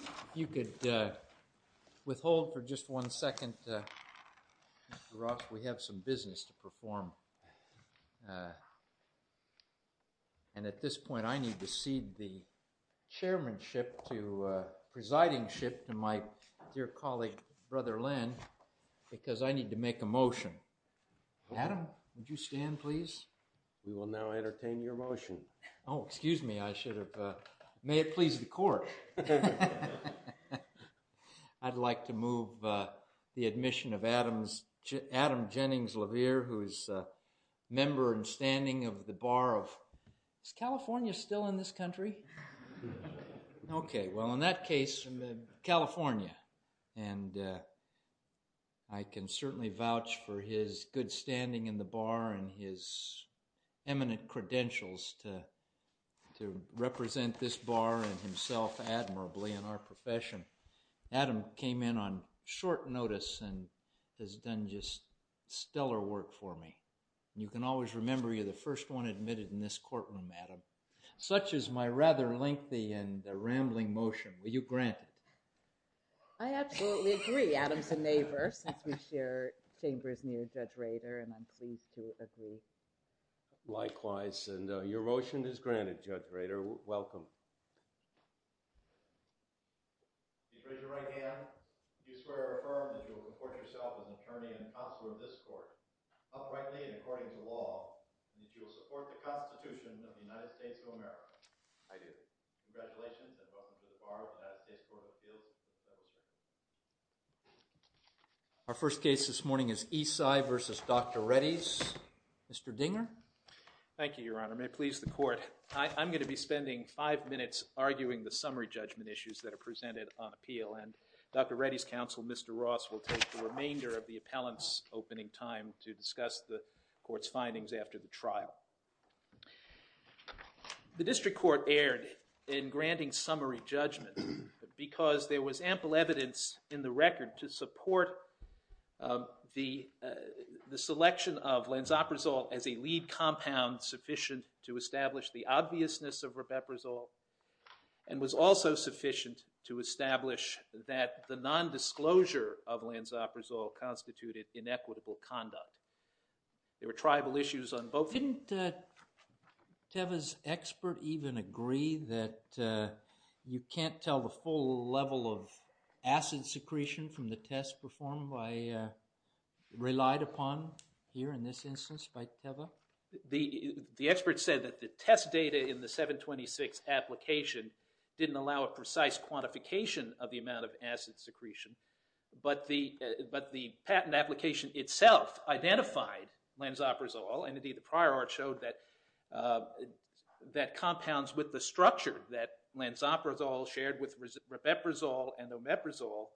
If you could withhold for just one second. Mr. Ross, we have some business to perform. And at this point I need to cede the chairmanship to presidingship to my dear colleague, Brother Len, because I need to make a motion. Adam, would you stand, please? We will now entertain your motion. Oh, excuse me, I should have. May it please the court. I'd like to move the admission of Adam Jennings LeVere, who is a member and standing of the bar of, is California still in this country? Okay, well in that case, California. And I can certainly vouch for his good standing in the bar and his eminent credentials to represent this bar and himself admirably in our profession. Adam came in on short notice and has done just stellar work for me. You can always remember you're the first one admitted in this courtroom, Adam. Such is my rather lengthy and rambling motion. Will you grant it? I absolutely agree, Adams and LeVere, since we share chambers near Judge Rader, and I'm pleased to agree. Likewise, and your motion is granted, Judge Rader. Welcome. You raise your right hand, do you swear or affirm that you will report yourself as an attorney and consular of this court, uprightly and according to law, and that you will support the Constitution of the United States of America? I do. Congratulations, and welcome to the bar of the United States Court of Appeals. Our first case this morning is Esai v. Dr. Reddy's. Mr. Dinger? Thank you, Your Honor. May it please the Court. I'm going to be spending five minutes arguing the summary judgment issues that are presented on appeal, and Dr. Reddy's counsel, Mr. Ross, will take the remainder of the appellant's opening time to discuss the Court's findings after the trial. The district court erred in granting summary judgment because there was ample evidence in the record to support the selection of Lanzaprazole as a lead compound sufficient to establish the obviousness of rubeprazole, and was also sufficient to establish that the nondisclosure of Lanzaprazole constituted inequitable conduct. There were tribal issues on both sides. Didn't Teva's expert even agree that you can't tell the full level of acid secretion from the test performed by, relied upon here in this instance by Teva? The expert said that the test data in the 726 application didn't allow a precise quantification of the amount of acid secretion, but the patent application itself identified Lanzaprazole, and indeed the prior art showed that compounds with the structure that Lanzaprazole shared with rubeprazole and omeprazole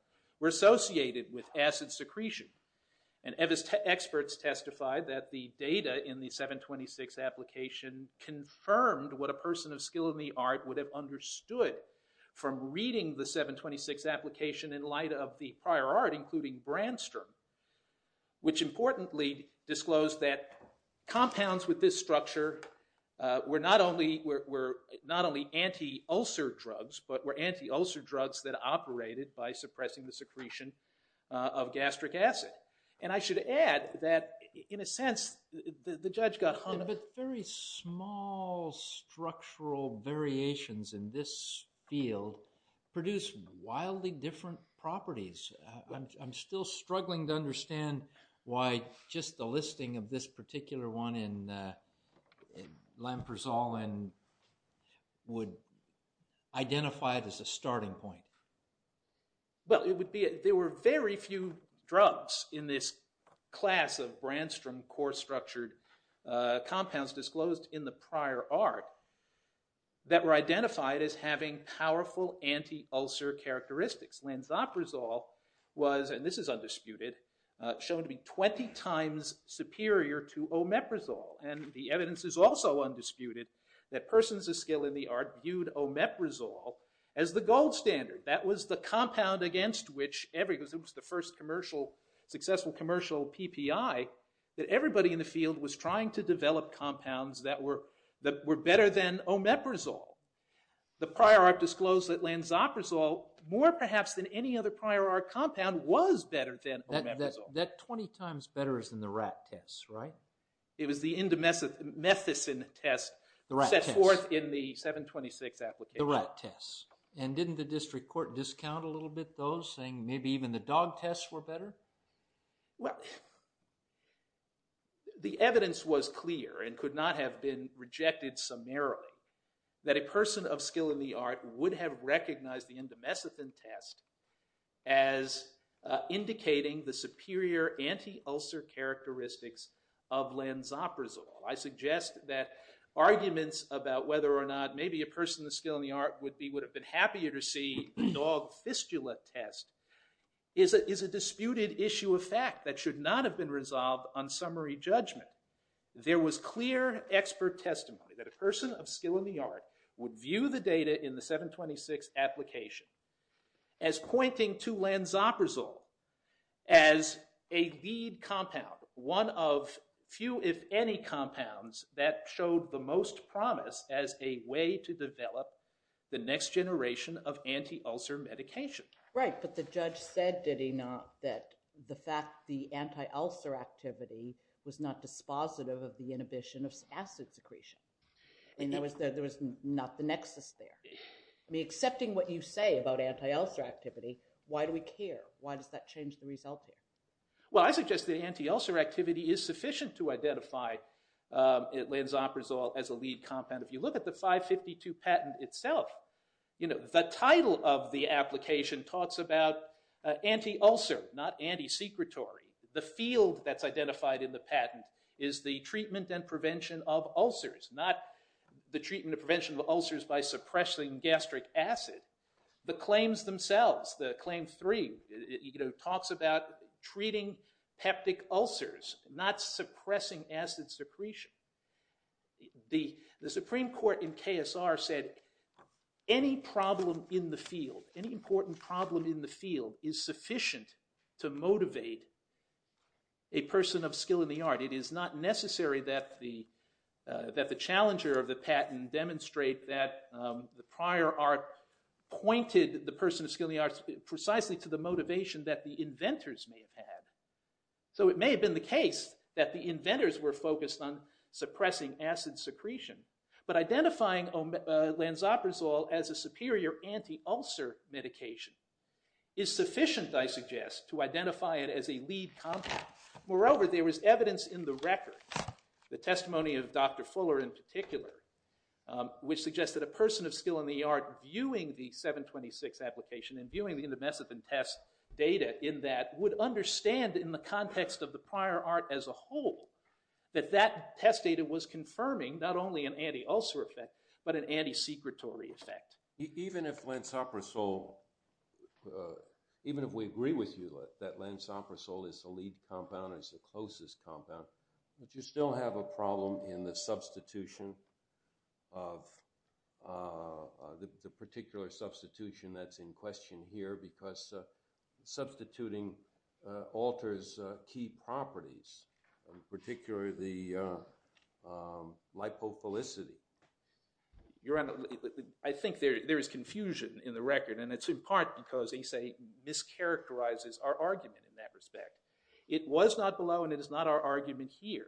were associated with acid secretion, and Teva's experts testified that the data in the 726 application confirmed what a person of skill in the art would have in the 726 application in light of the prior art, including Brandstrom, which importantly disclosed that compounds with this structure were not only anti-ulcer drugs, but were anti-ulcer drugs that operated by suppressing the secretion of gastric acid. And I should add that in a sense, the judge got hung up. Yes, but very small structural variations in this field produce wildly different properties. I'm still struggling to understand why just the listing of this particular one in Lanzaprazole would identify it as a starting point. Well, it would be, there were very few drugs in this class of Brandstrom core-structured compounds disclosed in the prior art that were identified as having powerful anti-ulcer characteristics. Lanzaprazole was, and this is undisputed, shown to be 20 times superior to omeprazole, and the evidence is also undisputed that persons of skill in the art viewed omeprazole as the gold standard. That was the compound against which every, because it was the first successful commercial PPI, that everybody in the field was trying to develop compounds that were better than omeprazole. The prior art disclosed that Lanzaprazole, more perhaps than any other prior art compound, was better than omeprazole. That 20 times better is in the rat test, right? It was the indomethacin test set forth in the 726 application. The rat test. And didn't the district court discount a little bit, though, saying maybe even the dog tests were better? Well, the evidence was clear and could not have been rejected summarily that a person of skill in the art would have recognized the indomethacin test as indicating the superior anti-ulcer characteristics of Lanzaprazole. I suggest that arguments about whether or not maybe a person of skill in the art would be, would have been happier to see the dog test or the fistula test is a disputed issue of fact that should not have been resolved on summary judgment. There was clear expert testimony that a person of skill in the art would view the data in the 726 application as pointing to Lanzaprazole as a lead compound, one of few if any compounds that showed the most promise as a way to develop the next generation of anti-ulcer medication. Right. But the judge said, did he not, that the fact the anti-ulcer activity was not dispositive of the inhibition of acid secretion. And there was not the nexus there. I mean, accepting what you say about anti-ulcer activity, why do we care? Why does that change the result here? Well, I suggest the anti-ulcer activity is sufficient to identify Lanzaprazole as a lead compound. If you look at the 552 patent itself, you know, the title of the application talks about anti-ulcer, not anti-secretory. The field that's identified in the patent is the treatment and prevention of ulcers, not the treatment and prevention of ulcers by inhibiting peptic ulcers, not suppressing acid secretion. The Supreme Court in KSR said any problem in the field, any important problem in the field is sufficient to motivate a person of skill in the art. It is not necessary that the challenger of the patent demonstrate that the prior art pointed the person of skill in the arts precisely to the motivation that the inventors may have had. So it may have been the case that the inventors were focused on suppressing acid secretion, but identifying Lanzaprazole as a superior anti-ulcer medication is sufficient, I suggest, to identify it as a lead compound. Moreover, there was evidence in the record, the testimony of Dr. Fuller in particular, which suggested a person of in that would understand in the context of the prior art as a whole that that test data was confirming not only an anti-ulcer effect, but an anti-secretory effect. Even if Lanzaprazole, even if we agree with you that Lanzaprazole is the lead compound, is the closest compound, but you still have a problem in the substitution of, the particular substitution that's in question here, because substituting alters key properties, in particular the lipophilicity. I think there is confusion in the record, and it's in part because they say it mischaracterizes our argument in that respect. It was not below, and it is not our argument here,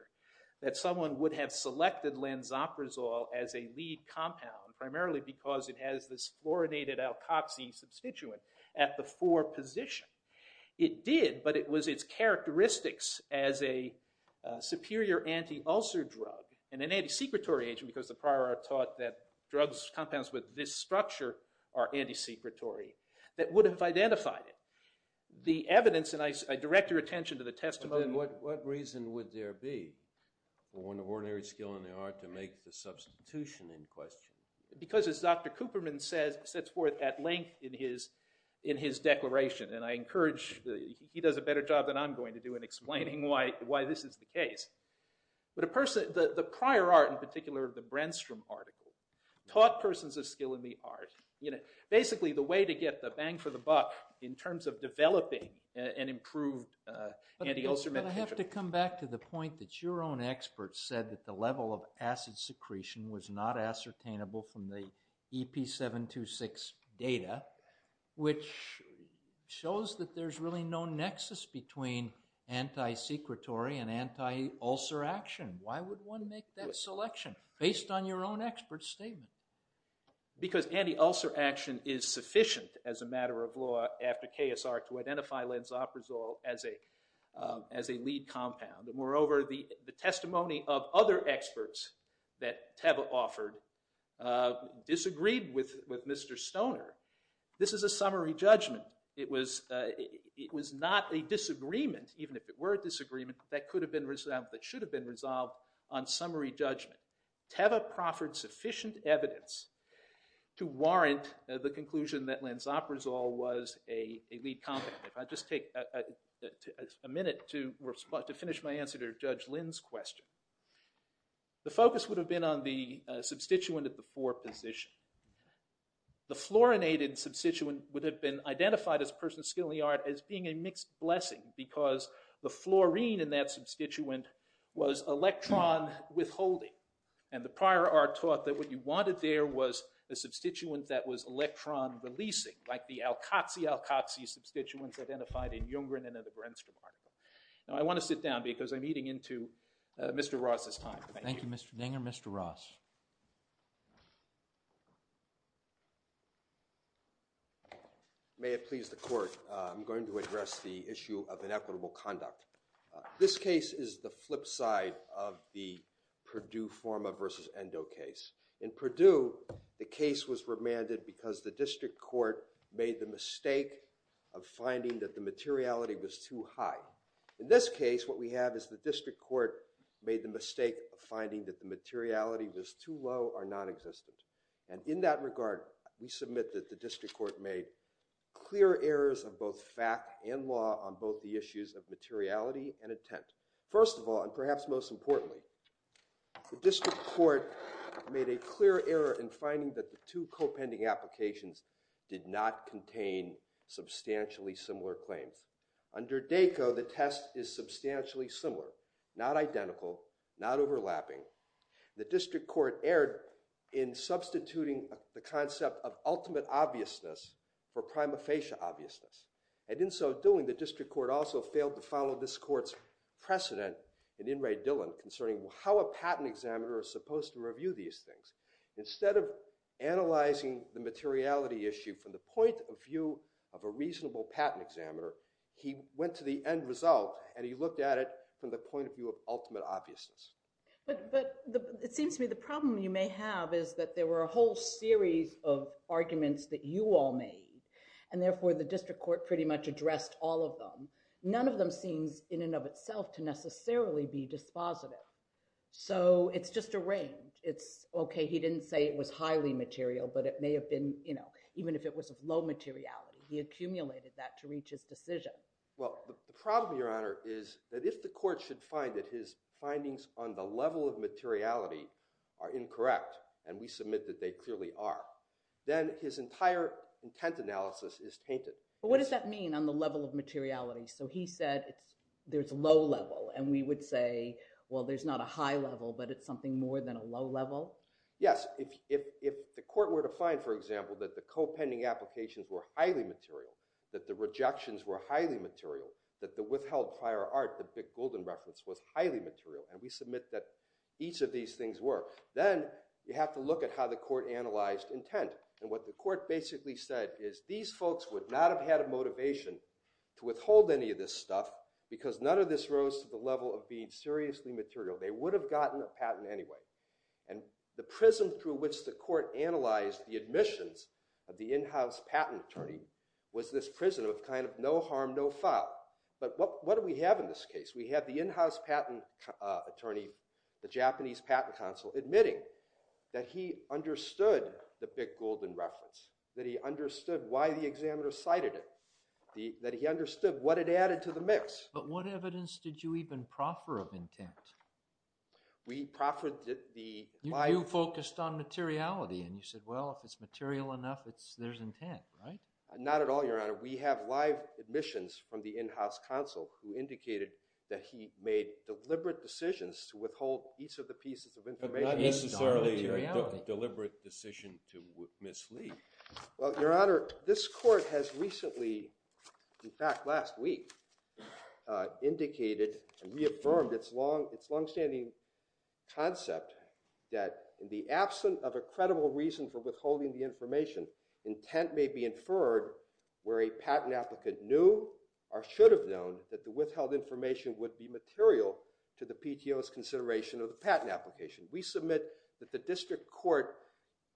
that someone would have selected Lanzaprazole as a lead compound, primarily because it has this fluorinated alkoxy substituent at the 4 position. It did, but it was its characteristics as a superior anti-ulcer drug, and an anti-secretory agent, because the prior art taught that drugs, compounds with this structure, are anti-secretory, that would have identified it. The evidence, and I direct your attention to the testimony. What reason would there be for ordinary skill in the art to make the substitution in question? Because as Dr. Cooperman says, sets forth at length in his declaration, and I encourage, he does a better job than I'm going to do in explaining why this is the case. The prior art in particular, the Brandstrom article, taught persons of skill in the art. Basically the way to get the bang for the buck in terms of developing an improved anti-ulcer medication. But I have to come back to the point that your own experts said that the level of acid secretion was not ascertainable from the EP726 data, which shows that there's really no nexus between anti-secretory and anti-ulcer action. Why would one make that selection based on your own expert statement? Because anti-ulcer action is sufficient as a matter of law after KSR to identify Lansoprazole as a lead compound. Moreover, the testimony of other experts that Teva offered disagreed with Mr. Stoner. This is a summary judgment. It was not a disagreement, even if it were a disagreement, that could have been resolved, that should have been resolved on summary judgment. Teva proffered sufficient evidence to warrant the conclusion that Lansoprazole was a lead compound. I'll just take a minute to finish my answer to Judge Lynn's question. The focus would have been on the substituent at the 4 position. The fluorinated substituent would have been identified as a person of skill in the art as being a mixed blessing because the fluorine in that substituent was electron withholding. And the prior art taught that what you wanted there was a substituent that was electron-releasing, like the alkoxy-alkoxy substituents identified in Junggren and in the Grenstrom article. Now, I want to sit down because I'm eating into Mr. Ross's time. Thank you, Mr. Deng and Mr. Ross. May it please the Court, I'm going to address the issue of inequitable conduct. This case is the flip side of the Purdue-Forma v. Endo case. In Purdue, the case was remanded because the district court made the mistake of finding that the materiality was too high. In this case, what we have is the district court made the mistake of finding that the materiality was too low or non-existent. And in that regard, we submit that the district court made clear errors of both fact and law on both the issues of materiality and intent. First of all, and perhaps most importantly, the district court made a clear error in finding that the two co-pending applications did not contain substantially similar claims. Under DACO, the test is substantially similar, not identical, not overlapping. The district court erred in substituting the concept of ultimate obviousness for prima facie obviousness. And in so doing, the district court also failed to follow this court's precedent in In re Dillon concerning how a patent examiner is supposed to review these things. Instead of analyzing the materiality issue from the point of view of a reasonable patent examiner, he went to the end result and he looked at it from the point of view of ultimate obviousness. But it seems to me the problem you may have is that there were a whole series of arguments that you all made, and therefore the district court pretty much addressed all of them. None of them seems in and of itself to necessarily be dispositive. So it's just a range. It's okay, he didn't say it was highly material, but it may have been, you know, even if it was of low materiality, he accumulated that to reach his decision. Well, the problem, Your Honor, is that if the court should find that his findings on the level of materiality are incorrect, and we submit that they clearly are, then his entire intent analysis is tainted. But what does that mean on the level of materiality? So he said there's low level, and we would say, well, there's not a high level, but it's something more than a low level? Yes. If the court were to find, for example, that the co-pending applications were highly material, that the rejections were highly material, that the withheld prior art, the big golden reference, was highly material, and we submit that each of these things were, then you have to look at how the court analyzed intent. And what the court basically said is these folks would not have had a motivation to withhold any of this stuff because none of this rose to the level of being seriously material. They would have gotten a patent anyway. And the prism through which the court analyzed the admissions of the in-house patent attorney was this prism of kind of no harm, no foul. But what do we have in this case? We have the in-house patent attorney, the Japanese patent counsel, admitting that he understood the big golden reference, that he understood why the examiner cited it, that he understood what it added to the mix. But what evidence did you even proffer of intent? We proffered the live— You focused on materiality, and you said, well, if it's material enough, there's intent, right? Not at all, Your Honor. We have live admissions from the in-house counsel who indicated that he made deliberate decisions to withhold each of the pieces of information— But not necessarily a deliberate decision to mislead. Well, Your Honor, this court has recently—in fact, last week—indicated and reaffirmed its longstanding concept that in the absence of a credible reason for withholding the information, intent may be inferred where a patent applicant knew or should have known that the withheld information would be material to the PTO's consideration of the patent application. We submit that the district court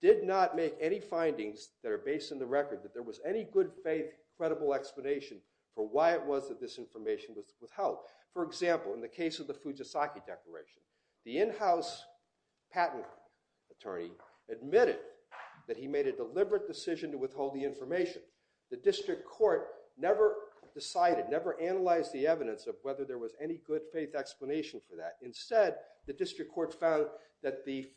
did not make any findings that are based on the record that there was any good-faith, credible explanation for why it was that this information was withheld. For example, in the case of the Fujisaki declaration, the in-house patent attorney admitted that he made a deliberate decision to withhold the information. The district court never decided, never analyzed the evidence of whether there was any good-faith explanation for that. Instead, the district court found that the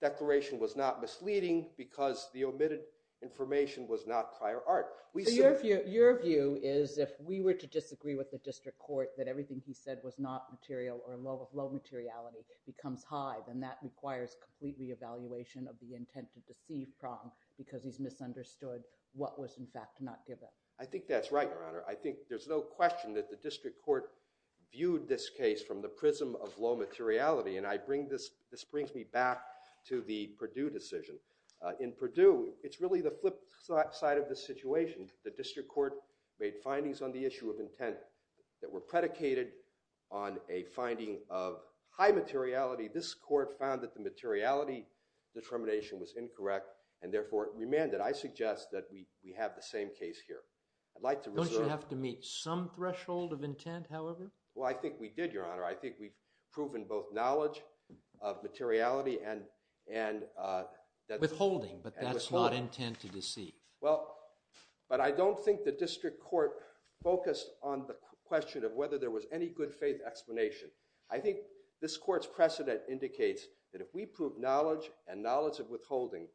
declaration was not misleading because the omitted information was not prior art. Your view is if we were to disagree with the district court that everything he said was not material or of low materiality becomes high, then that requires complete re-evaluation of the intent to deceive Prong because he's misunderstood what was, in fact, not given. I think that's right, Your Honor. I think there's no question that the district court viewed this case from the prism of low materiality, and this brings me back to the Perdue decision. In Perdue, it's really the flip side of the situation. The district court made findings on the issue of intent that were predicated on a finding of high materiality. This court found that the materiality determination was incorrect and therefore remanded. I suggest that we have the same case here. Don't you have to meet some threshold of intent, however? Well, I think we did, Your Honor. I think we've proven both knowledge of materiality and... Withholding, but that's not intent to deceive. Well, but I don't think the district court focused on the question of whether there was any good-faith explanation. I think this court's precedent indicates that if we prove knowledge and knowledge of withholding,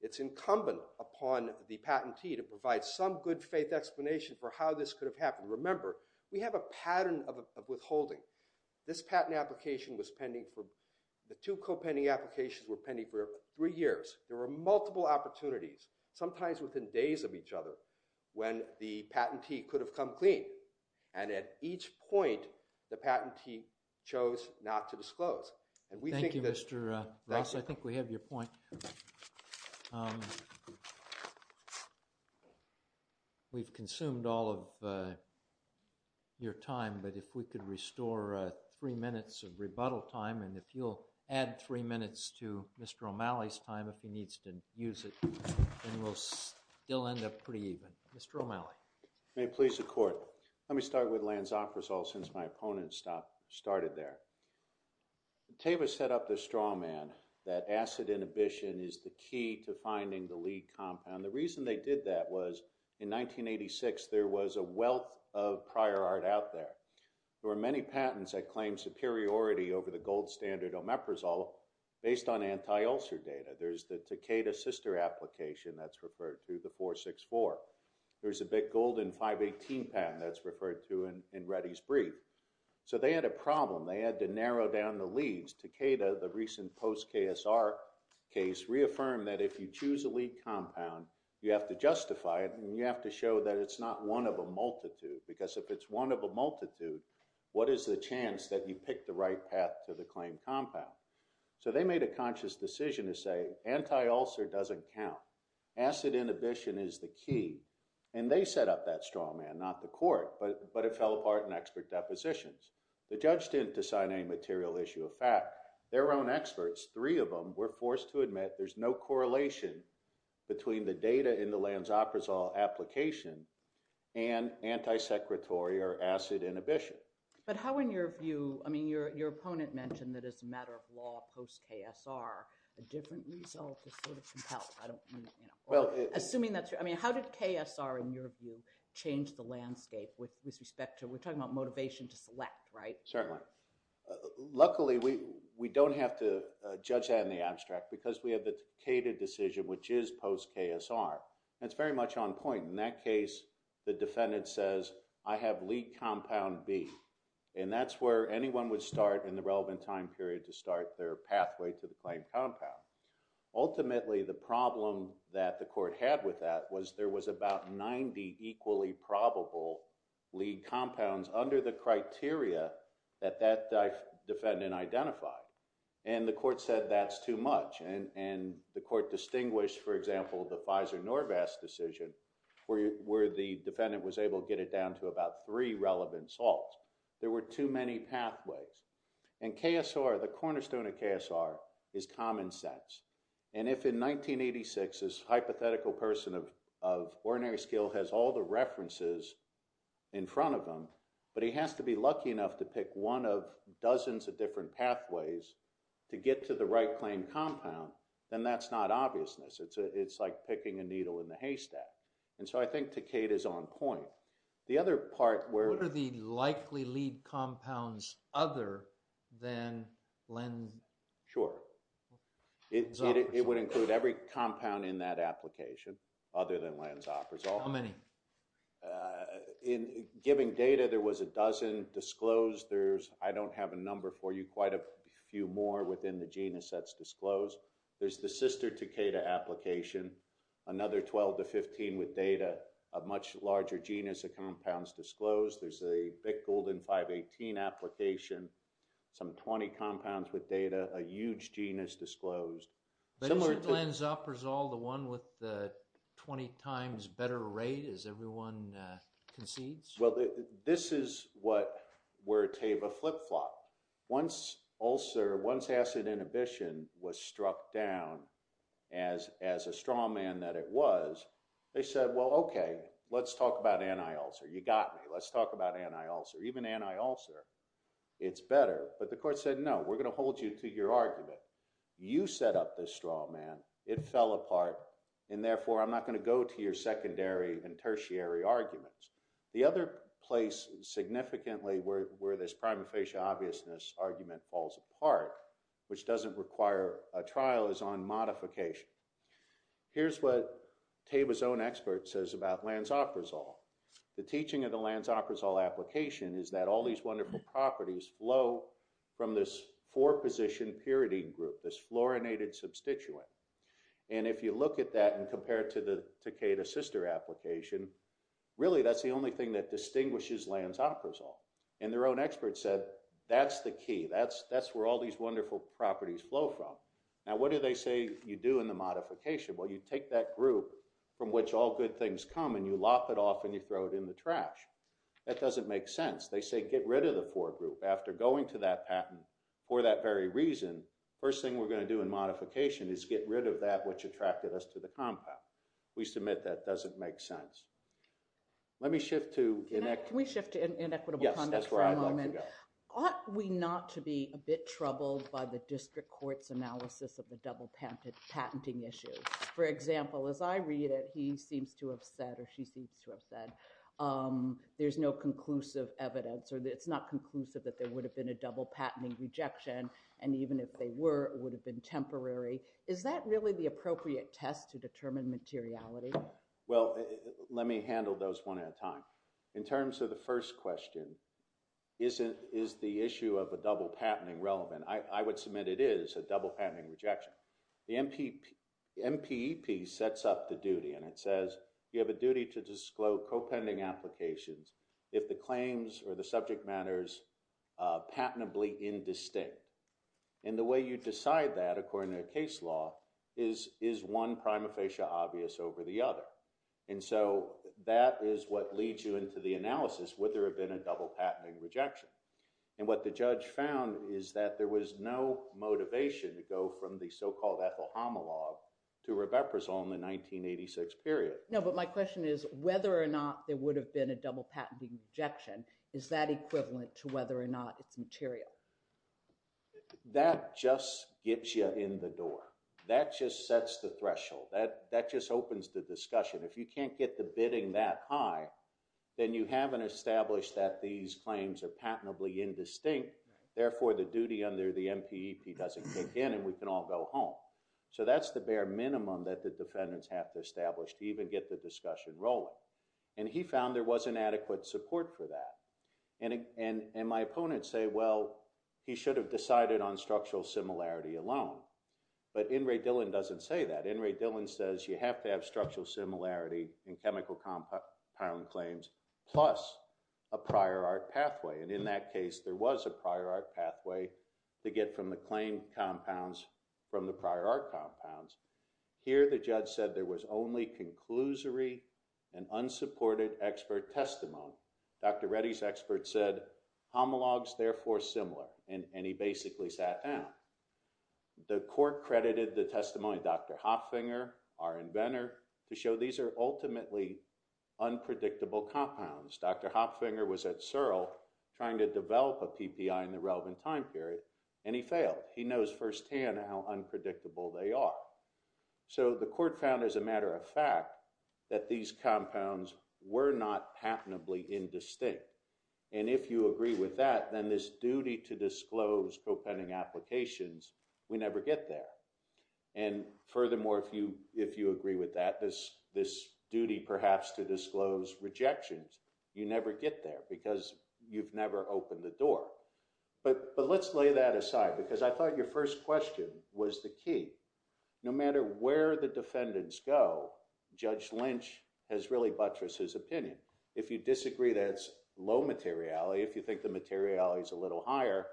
it's incumbent upon the patentee to provide some good-faith explanation for how this could have happened. Remember, we have a pattern of withholding. This patent application was pending for... The two co-pending applications were pending for three years. There were multiple opportunities, sometimes within days of each other, when the patentee could have come clean, and at each point, the patentee chose not to disclose. Thank you, Mr. Ross. I think we have your point. We've consumed all of your time, but if we could restore three minutes of rebuttal time, and if you'll add three minutes to Mr. O'Malley's time if he needs to use it, then we'll still end up pretty even. Mr. O'Malley. May it please the court. Let me start with Lansoprazole since my opponent started there. Teva set up the straw man that acid inhibition is the key to finding the lead compound. The reason they did that was in 1986, there was a wealth of prior art out there. There were many patents that claimed superiority over the gold standard omeprazole based on anti-ulcer data. There's the Takeda sister application that's referred to, the 464. There's a big golden 518 patent that's referred to in Reddy's brief. So they had a problem. They had to narrow down the leads. Takeda, the recent post-KSR case, reaffirmed that if you choose a lead compound, you have to justify it, and you have to show that it's not one of a multitude, because if it's one of a multitude, what is the chance that you pick the right path to the claim compound? So they made a conscious decision to say anti-ulcer doesn't count. Acid inhibition is the key. And they set up that straw man, not the court, but it fell apart in expert depositions. The judge didn't decide any material issue of fact. Their own experts, three of them, were forced to admit there's no correlation between the data in the Lansoprazole application and anti-secretory or acid inhibition. But how, in your view, I mean, your opponent mentioned that as a matter of law, post-KSR, a different result is sort of compelled. I don't mean, you know, assuming that's your, I mean, how did KSR, in your view, change the landscape with respect to, we're talking about motivation to select, right? Certainly. Luckily, we don't have to judge that in the abstract, because we have the Takeda decision, which is post-KSR. And it's very much on point. In that case, the defendant says, I have lead compound B. And that's where anyone would start in the relevant time period to start their pathway to the claimed compound. Ultimately, the problem that the court had with that was there was about 90 equally probable lead compounds under the criteria that that defendant identified. And the court said that's too much. And the court distinguished, for example, the Pfizer-Norvas decision, where the defendant was able to get it down to about three relevant salts. There were too many pathways. And KSR, the cornerstone of KSR, is common sense. And if in 1986, this hypothetical person of ordinary skill has all the references in front of him, but he has to be lucky enough to pick one of dozens of different pathways to get to the right claimed compound, then that's not obviousness. It's like picking a needle in the haystack. And so I think Takeda's on point. The other part where— What are the likely lead compounds other than Lansoprazole? Sure. It would include every compound in that application other than Lansoprazole. How many? In giving data, there was a dozen disclosed. There's—I don't have a number for you. Quite a few more within the genus that's disclosed. There's the sister Takeda application, another 12 to 15 with data, a much larger genus of compounds disclosed. There's a Bic Golden 518 application, some 20 compounds with data, a huge genus disclosed. But isn't Lansoprazole the one with the 20 times better rate as everyone concedes? Well, this is where Tava flip-flopped. Once ulcer, once acid inhibition was struck down as a straw man that it was, they said, well, okay, let's talk about anti-ulcer. You got me. Let's talk about anti-ulcer. Even anti-ulcer, it's better. But the court said, no, we're going to reset up this straw man. It fell apart. And therefore, I'm not going to go to your secondary and tertiary arguments. The other place significantly where this prima facie obviousness argument falls apart, which doesn't require a trial, is on modification. Here's what Tava's own expert says about Lansoprazole. The teaching of the Lansoprazole application is that all these wonderful properties flow from this four-position pyridine group, this fluorinated substituent. And if you look at that and compare it to the Takeda sister application, really that's the only thing that distinguishes Lansoprazole. And their own expert said, that's the key. That's where all these wonderful properties flow from. Now, what do they say you do in the modification? Well, you take that group from which all good things come and you lop it off and you throw it in the trash. That doesn't make sense. They say, get rid of the four group. After going to that patent for that very reason, first thing we're going to do in modification is get rid of that which attracted us to the compound. We submit that doesn't make sense. Let me shift to inequitable conduct for a moment. Can we shift to inequitable conduct for a moment? Yes, that's where I'd like to go. Ought we not to be a bit troubled by the district court's analysis of the double patenting issue? For example, as I read it, he seems to have said, or she seems to have said, there's no conclusive evidence or it's not conclusive that there would have been a double patenting rejection. And even if they were, it would have been temporary. Is that really the appropriate test to determine materiality? Well, let me handle those one at a time. In terms of the first question, is the issue of a double patenting relevant? I would submit it is a double patenting rejection. The MPEP sets up the duty and it says you have a duty to disclose co-pending applications if the claims or the subject matter is patently indistinct. And the way you decide that, according to the case law, is one prima facie obvious over the other. And so that is what leads you into the analysis, would there have been a double patenting rejection? And what the judge found is that there was no motivation to go from the so-called Ethel homologue to Rebecca's on the 1986 period. No, but my question is whether or not there would have been a double patenting rejection. Is that equivalent to whether or not it's material? That just gets you in the door. That just sets the threshold that that just opens the discussion. If you can't get the bidding that high, then you haven't established that these claims are patently indistinct, therefore the duty under the MPEP doesn't kick in and we can all go home. So that's the bare minimum that the defendants have to establish to even get the discussion rolling. And he found there wasn't adequate support for that. And my opponents say, well, he should have decided on structural similarity alone. But In re Dillon doesn't say that. In re Dillon says you have to have structural similarity in chemical compound claims plus a prior art pathway. And in that case, there was a prior art pathway to get from the claim compounds from the prior art compounds. Here, the judge said there was only conclusory and unsupported expert testimony. Dr. Reddy's expert said homologues, therefore similar. And he basically sat down. The court credited the testimony of Dr. Hopfinger was at Searle trying to develop a PPI in the relevant time period. And he failed. He knows firsthand how unpredictable they are. So the court found, as a matter of fact, that these compounds were not patentably indistinct. And if you agree with that, then this duty to disclose propending applications, we never get there. And furthermore, if you agree with that, this duty perhaps to disclose rejections, you never get there because you've never opened the door. But let's lay that aside because I thought your first question was the key. No matter where the defendants go, Judge Lynch has really buttressed his opinion. If you disagree, that's low materiality. If you think the materiality is a little higher,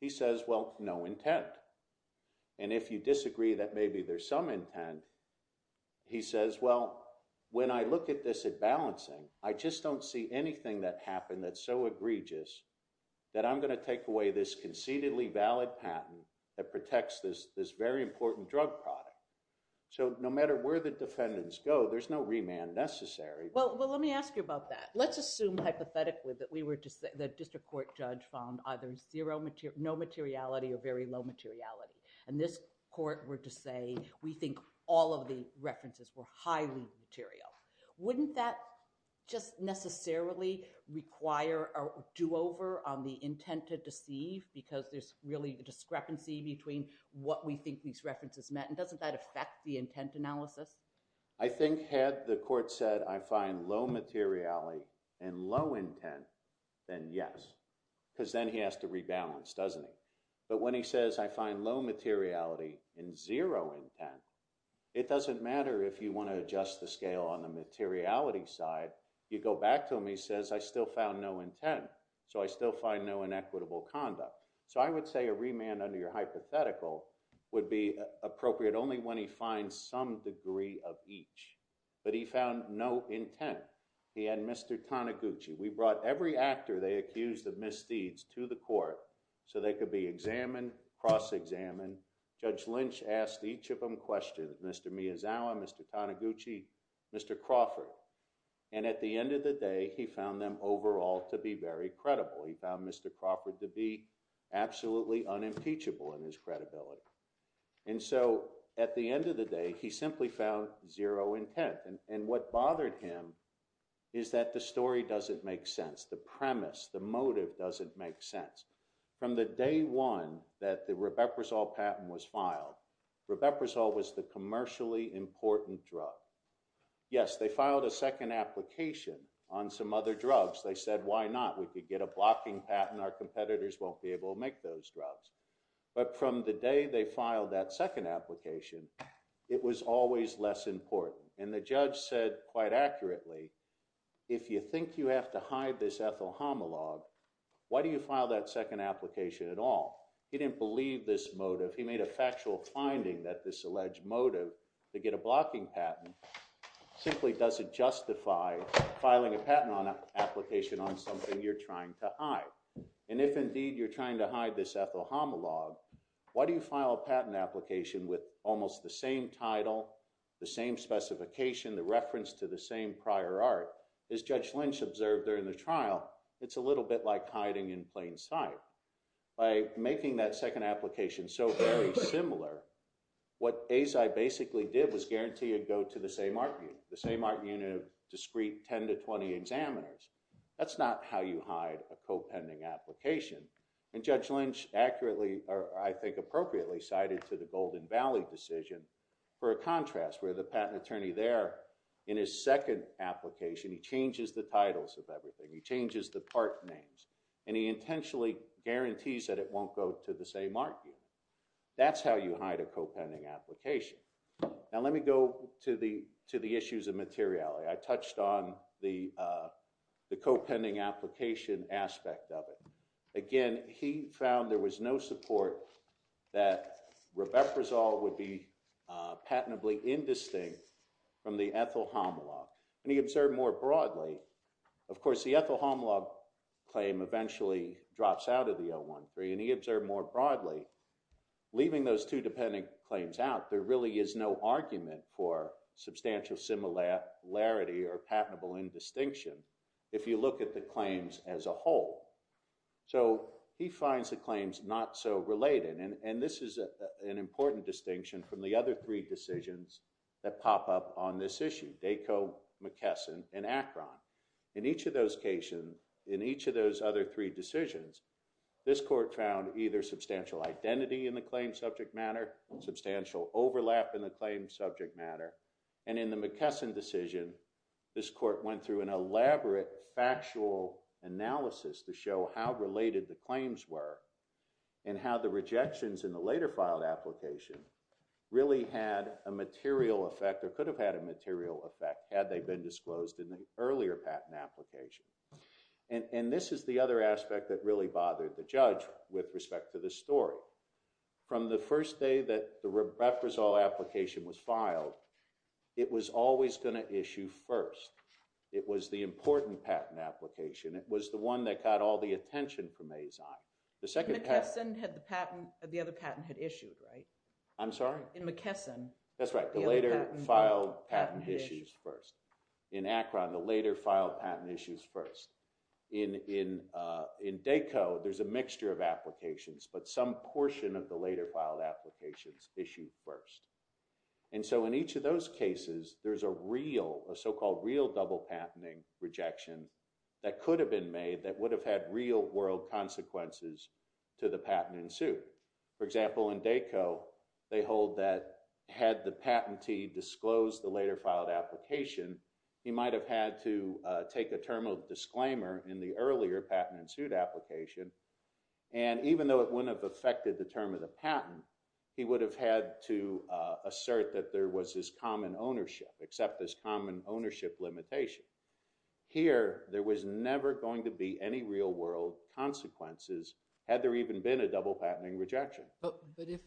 he says, well, no intent. And if you disagree that maybe there's some intent, he says, well, when I look at this at balancing, I just don't see anything that happened that's so egregious that I'm going to take away this concededly valid patent that protects this very important drug product. So no matter where the defendants go, there's no remand necessary. Well, let me ask you about that. Let's assume hypothetically that the district court judge found either no materiality or very low materiality. And this court were to say, we think all of the references were highly material. Wouldn't that just necessarily require a do-over on the intent to deceive because there's really a discrepancy between what we think these references meant? And doesn't that affect the intent analysis? I think had the court said, I find low materiality and low intent, then yes. Because then he has to rebalance, doesn't he? But when he says, I find low materiality and zero intent, it doesn't matter if you want to adjust the scale on the materiality side. You go back to him, he says, I still found no intent. So I still find no inequitable conduct. So I would say a remand under your hypothetical would be appropriate only when he finds some degree of each. But he found no intent. He had Mr. Taniguchi. We brought every actor they accused of misdeeds to the court so they could be examined, cross-examined. Judge Lynch asked each of them questions. Mr. Miyazawa, Mr. Taniguchi, Mr. Crawford. And at the end of the day, he found them overall to be very credible. He found Mr. Crawford to be absolutely unimpeachable in his credibility. And so at the end of the day, he simply found zero intent. And what bothered him is that the story doesn't make sense. The premise, the motive doesn't make sense. From the day one that the Rubeprizol patent was filed, Rubeprizol was the commercially important drug. Yes, they filed a second application on some other drugs. They said, why not? We could get a blocking patent. Our competitors won't be able to make those drugs. But from the day they filed that second application, it was always less important. And the judge said quite accurately, if you think you have to hide this ethyl homolog, why do you file that second application at all? He didn't believe this motive. He made a factual finding that this alleged motive to get a blocking patent simply doesn't justify filing a patent application on something you're trying to hide. And if, indeed, you're trying to hide this ethyl homolog, why do you file a patent application with almost the same title, the same specification, the reference to the same prior art? As Judge Lynch observed during the trial, it's a little bit like hiding in plain sight. By making that second application so very similar, what Azai basically did was guarantee a go to the same art unit, the same art unit of discrete 10 to 20 examiners. That's not how you hide a co-pending application. And Judge Lynch accurately, or I think appropriately, cited to the Golden Valley decision for a contrast, where the patent attorney there in his second application, he changes the titles of everything. He changes the part names. And he intentionally guarantees that it won't go to the same art unit. That's how you hide a co-pending application. Now, let me go to the issues of materiality. I touched on the co-pending application aspect of it. Again, he found there was no support that Riveprazole would be patentably indistinct from the ethyl homolog. And he observed more broadly, of course, the ethyl homolog claim eventually drops out of the 013. And he observed more broadly, leaving those two dependent claims out, there really is no argument for substantial similarity or patentable indistinction if you look at the claims as a whole. So he finds the claims not so related. And this is an important distinction from the other three decisions that pop up on this issue, Daco, McKesson, and Akron. In each of those cases, in each of those other three decisions, this court found either substantial identity in the claim subject matter, substantial overlap in the claim subject matter. And in the McKesson decision, this court went through an elaborate factual analysis to show how related the claims were and how the rejections in the later filed application really had a material effect or could have had a material effect had they been disclosed in the earlier patent application. And this is the other aspect that really bothered the judge with respect to the story. So, from the first day that the Refresol application was filed, it was always going to issue first. It was the important patent application, it was the one that got all the attention from ASI. The second patent... In McKesson, the other patent had issued, right? I'm sorry? In McKesson. That's right, the later filed patent issues first. In Akron, the later filed patent issues first. In DACO, there's a mixture of applications, but some portion of the later filed applications issued first. And so in each of those cases, there's a real, a so-called real double patenting rejection that could have been made that would have had real world consequences to the patent in suit. For example, in DACO, they hold that had the patentee disclosed the later filed application, he might have had to take a term of disclaimer in the earlier patent in suit application. And even though it wouldn't have affected the term of the patent, he would have had to assert that there was this common ownership, accept this common ownership limitation. Here, there was never going to be any real world consequences, had there even been a double patenting rejection. But if...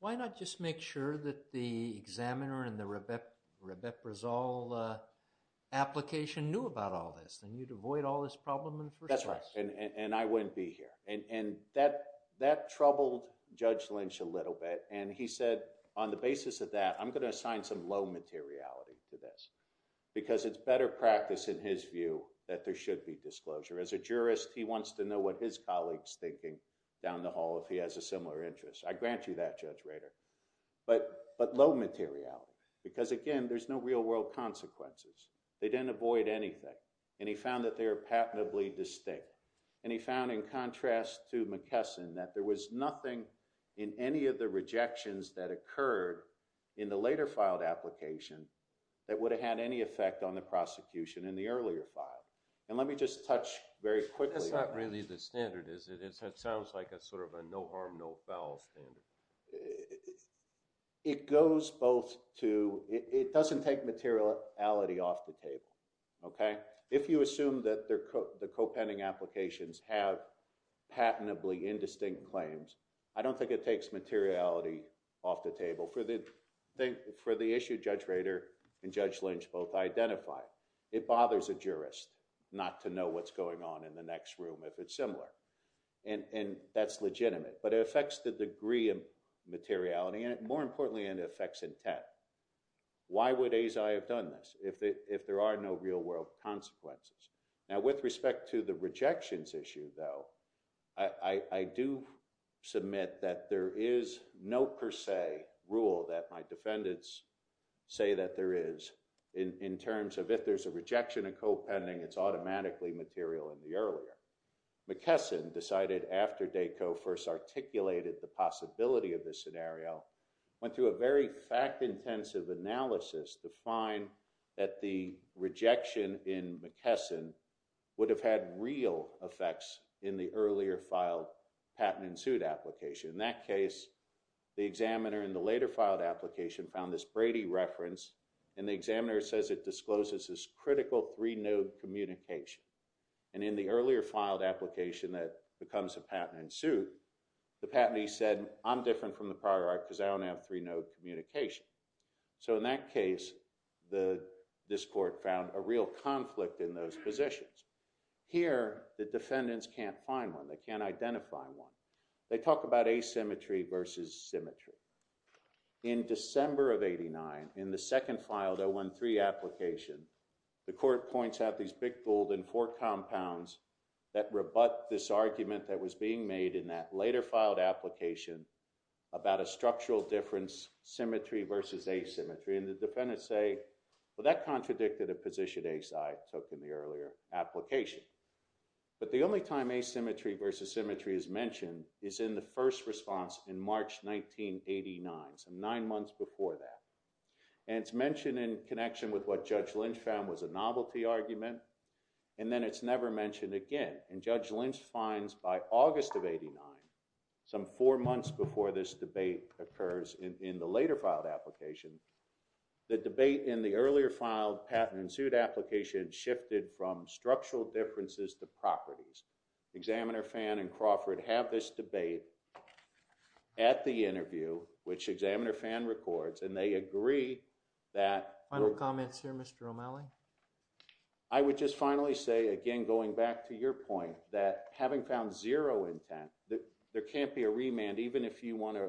Why not just make sure that the examiner and the Rebeprazole application knew about all this? Then you'd avoid all this problem in the first place. That's right. And I wouldn't be here. And that troubled Judge Lynch a little bit. And he said, on the basis of that, I'm going to assign some low materiality to this. Because it's better practice, in his view, that there should be disclosure. As a jurist, he wants to know what his colleague's thinking down the hall if he has a similar interest. I grant you that, Judge Rader. But low materiality. Because again, there's no real world consequences. They didn't avoid anything. And he found that they are patently distinct. And he found, in contrast to McKesson, that there was nothing in any of the rejections that occurred in the later filed application that would have had any effect on the prosecution in the earlier file. And let me just touch very quickly... That's not really the standard, is it? It sounds like a sort of a no harm, no foul standard. It goes both to... It doesn't take materiality off the table. If you assume that the co-pending applications have patently indistinct claims, I don't think it takes materiality off the table. For the issue Judge Rader and Judge Lynch both identified, it bothers a jurist not to know what's going on in the next room if it's similar. And that's legitimate. But it affects the degree of materiality. And more importantly, it affects intent. Why would Azai have done this if there are no real world consequences? Now, with respect to the rejections issue, though, I do submit that there is no per se rule that my defendants say that there is in terms of if there's a rejection of co-pending, it's automatically material in the earlier. McKesson decided after DACO first articulated the possibility of this scenario, went through a very fact-intensive analysis to find that the rejection in McKesson would have had real effects in the earlier filed patent-ensued application. In that case, the examiner in the later filed application found this Brady reference, and the examiner says it discloses this critical three-node communication. And in the earlier filed application that becomes a patent-ensued, the patentee said, I'm different from the prior art because I don't have three-node communication. So in that case, this court found a real conflict in those positions. Here, the defendants can't find one. They can't identify one. They talk about asymmetry versus symmetry. In December of 89, in the second filed 013 application, the court points out these big golden four compounds that rebut this argument that was being made in that later filed application about a structural difference, symmetry versus asymmetry. And the defendants say, well, that contradicted a position ACI took in the earlier application. But the only time asymmetry versus symmetry is mentioned is in the first response in March 1989, so nine months before that. And it's mentioned in connection with what Judge Lynch found was a novelty argument, and then it's never mentioned again. And Judge Lynch finds by August of 89, some four months before this debate occurs in the later filed application, the debate in the earlier filed patent and suit application shifted from structural differences to properties. Examiner Fan and Crawford have this debate at the interview, which Examiner Fan records, and they agree that Final comments here, Mr. O'Malley? I would just finally say, again, going back to your point, that having found zero intent, there can't be a remand, even if you want to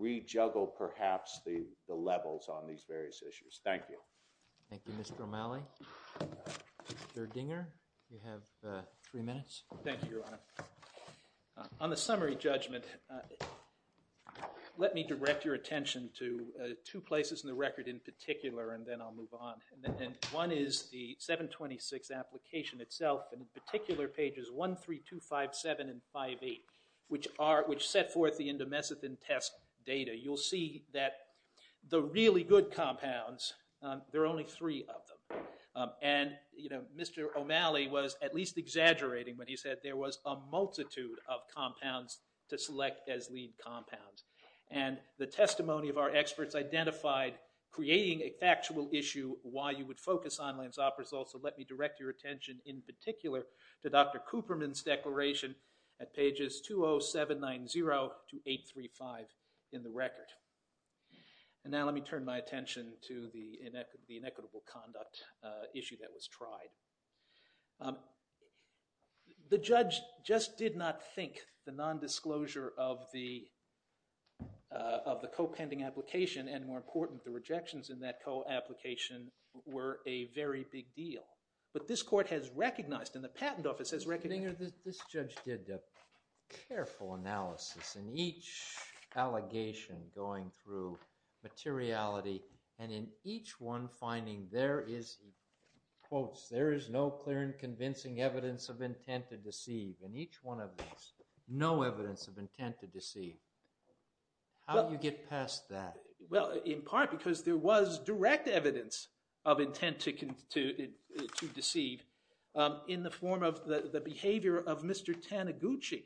rejuggle perhaps the levels on these various issues. Thank you. Thank you, Mr. O'Malley. Mr. Dinger, you have three minutes. Thank you, Your Honor. On the summary judgment, let me direct your attention to two places in the record in particular, and then I'll move on. And one is the 726 application itself, and in particular pages 1, 3, 2, 5, 7, and 5, 8, which set forth the endomesithin test data. You'll see that the really good compounds, there are only three of them. And, you know, Mr. O'Malley was at least exaggerating when he said there was a multitude of compounds to select as lead compounds. And the testimony of our experts identified creating a factual issue, why you would focus on lansoprasol. So let me direct your attention in particular to Dr. Cooperman's declaration at pages 20790 to 835 in the record. And now let me turn my attention to the inequitable conduct issue that was tried. The judge just did not think the nondisclosure of the co-pending application, and more important, the rejections in that co-application, were a very big deal. But this court has recognized, and the patent office has recognized. Mr. Stinger, this judge did a careful analysis in each allegation going through materiality, and in each one finding there is, he quotes, there is no clear and convincing evidence of intent to deceive. In each one of these, no evidence of intent to deceive. How do you get past that? Well, in part because there was direct evidence of intent to deceive in the form of the behavior of Mr. Taniguchi,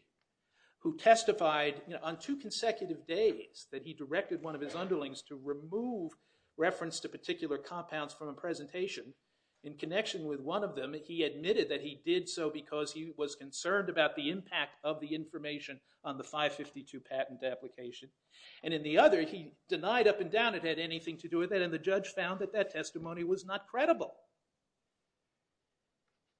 who testified on two consecutive days that he directed one of his underlings to remove reference to particular compounds from a presentation. In connection with one of them, he admitted that he did so because he was concerned about the impact of the information on the 552 patent application. And in the other, he denied up and down it had anything to do with that, and the judge found that that testimony was not credible.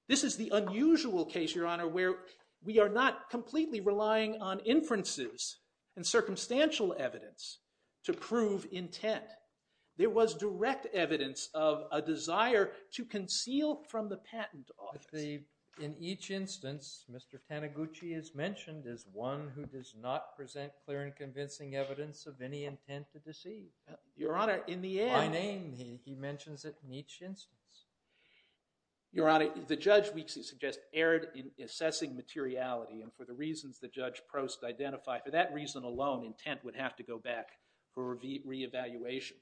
This is the unusual case, Your Honor, where we are not completely relying on inferences and circumstantial evidence to prove intent. There was direct evidence of a desire to conceal from the patent office. In each instance, Mr. Taniguchi is mentioned as one who does not present clear and convincing evidence of any intent to deceive. Your Honor, in the end— By name, he mentions it in each instance. Your Honor, the judge, we suggest, erred in assessing materiality. And for the reasons the judge posed to identify, for that reason alone, intent would have to go back for reevaluation.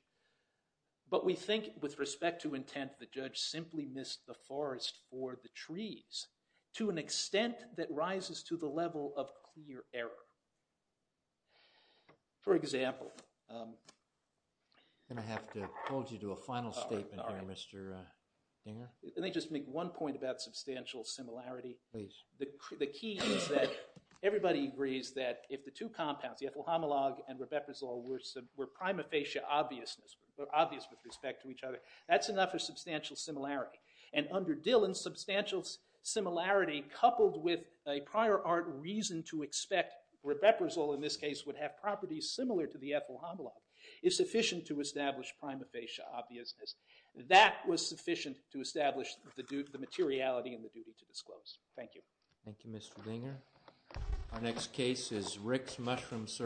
But we think, with respect to intent, the judge simply missed the forest for the trees to an extent that rises to the level of clear error. For example— I'm going to have to hold you to a final statement here, Mr. Dinger. Can I just make one point about substantial similarity? Please. The key is that everybody agrees that if the two compounds, the ethyl homolog and rebeprazole, were prima facie obvious with respect to each other, that's enough of substantial similarity. And under Dillon, substantial similarity coupled with a prior art reason to expect rebeprazole, in this case, would have properties similar to the ethyl homolog, is sufficient to establish prima facie obviousness. That was sufficient to establish the materiality and the duty to disclose. Thank you. Thank you, Mr. Dinger. Our next case is Rick's Mushroom Service.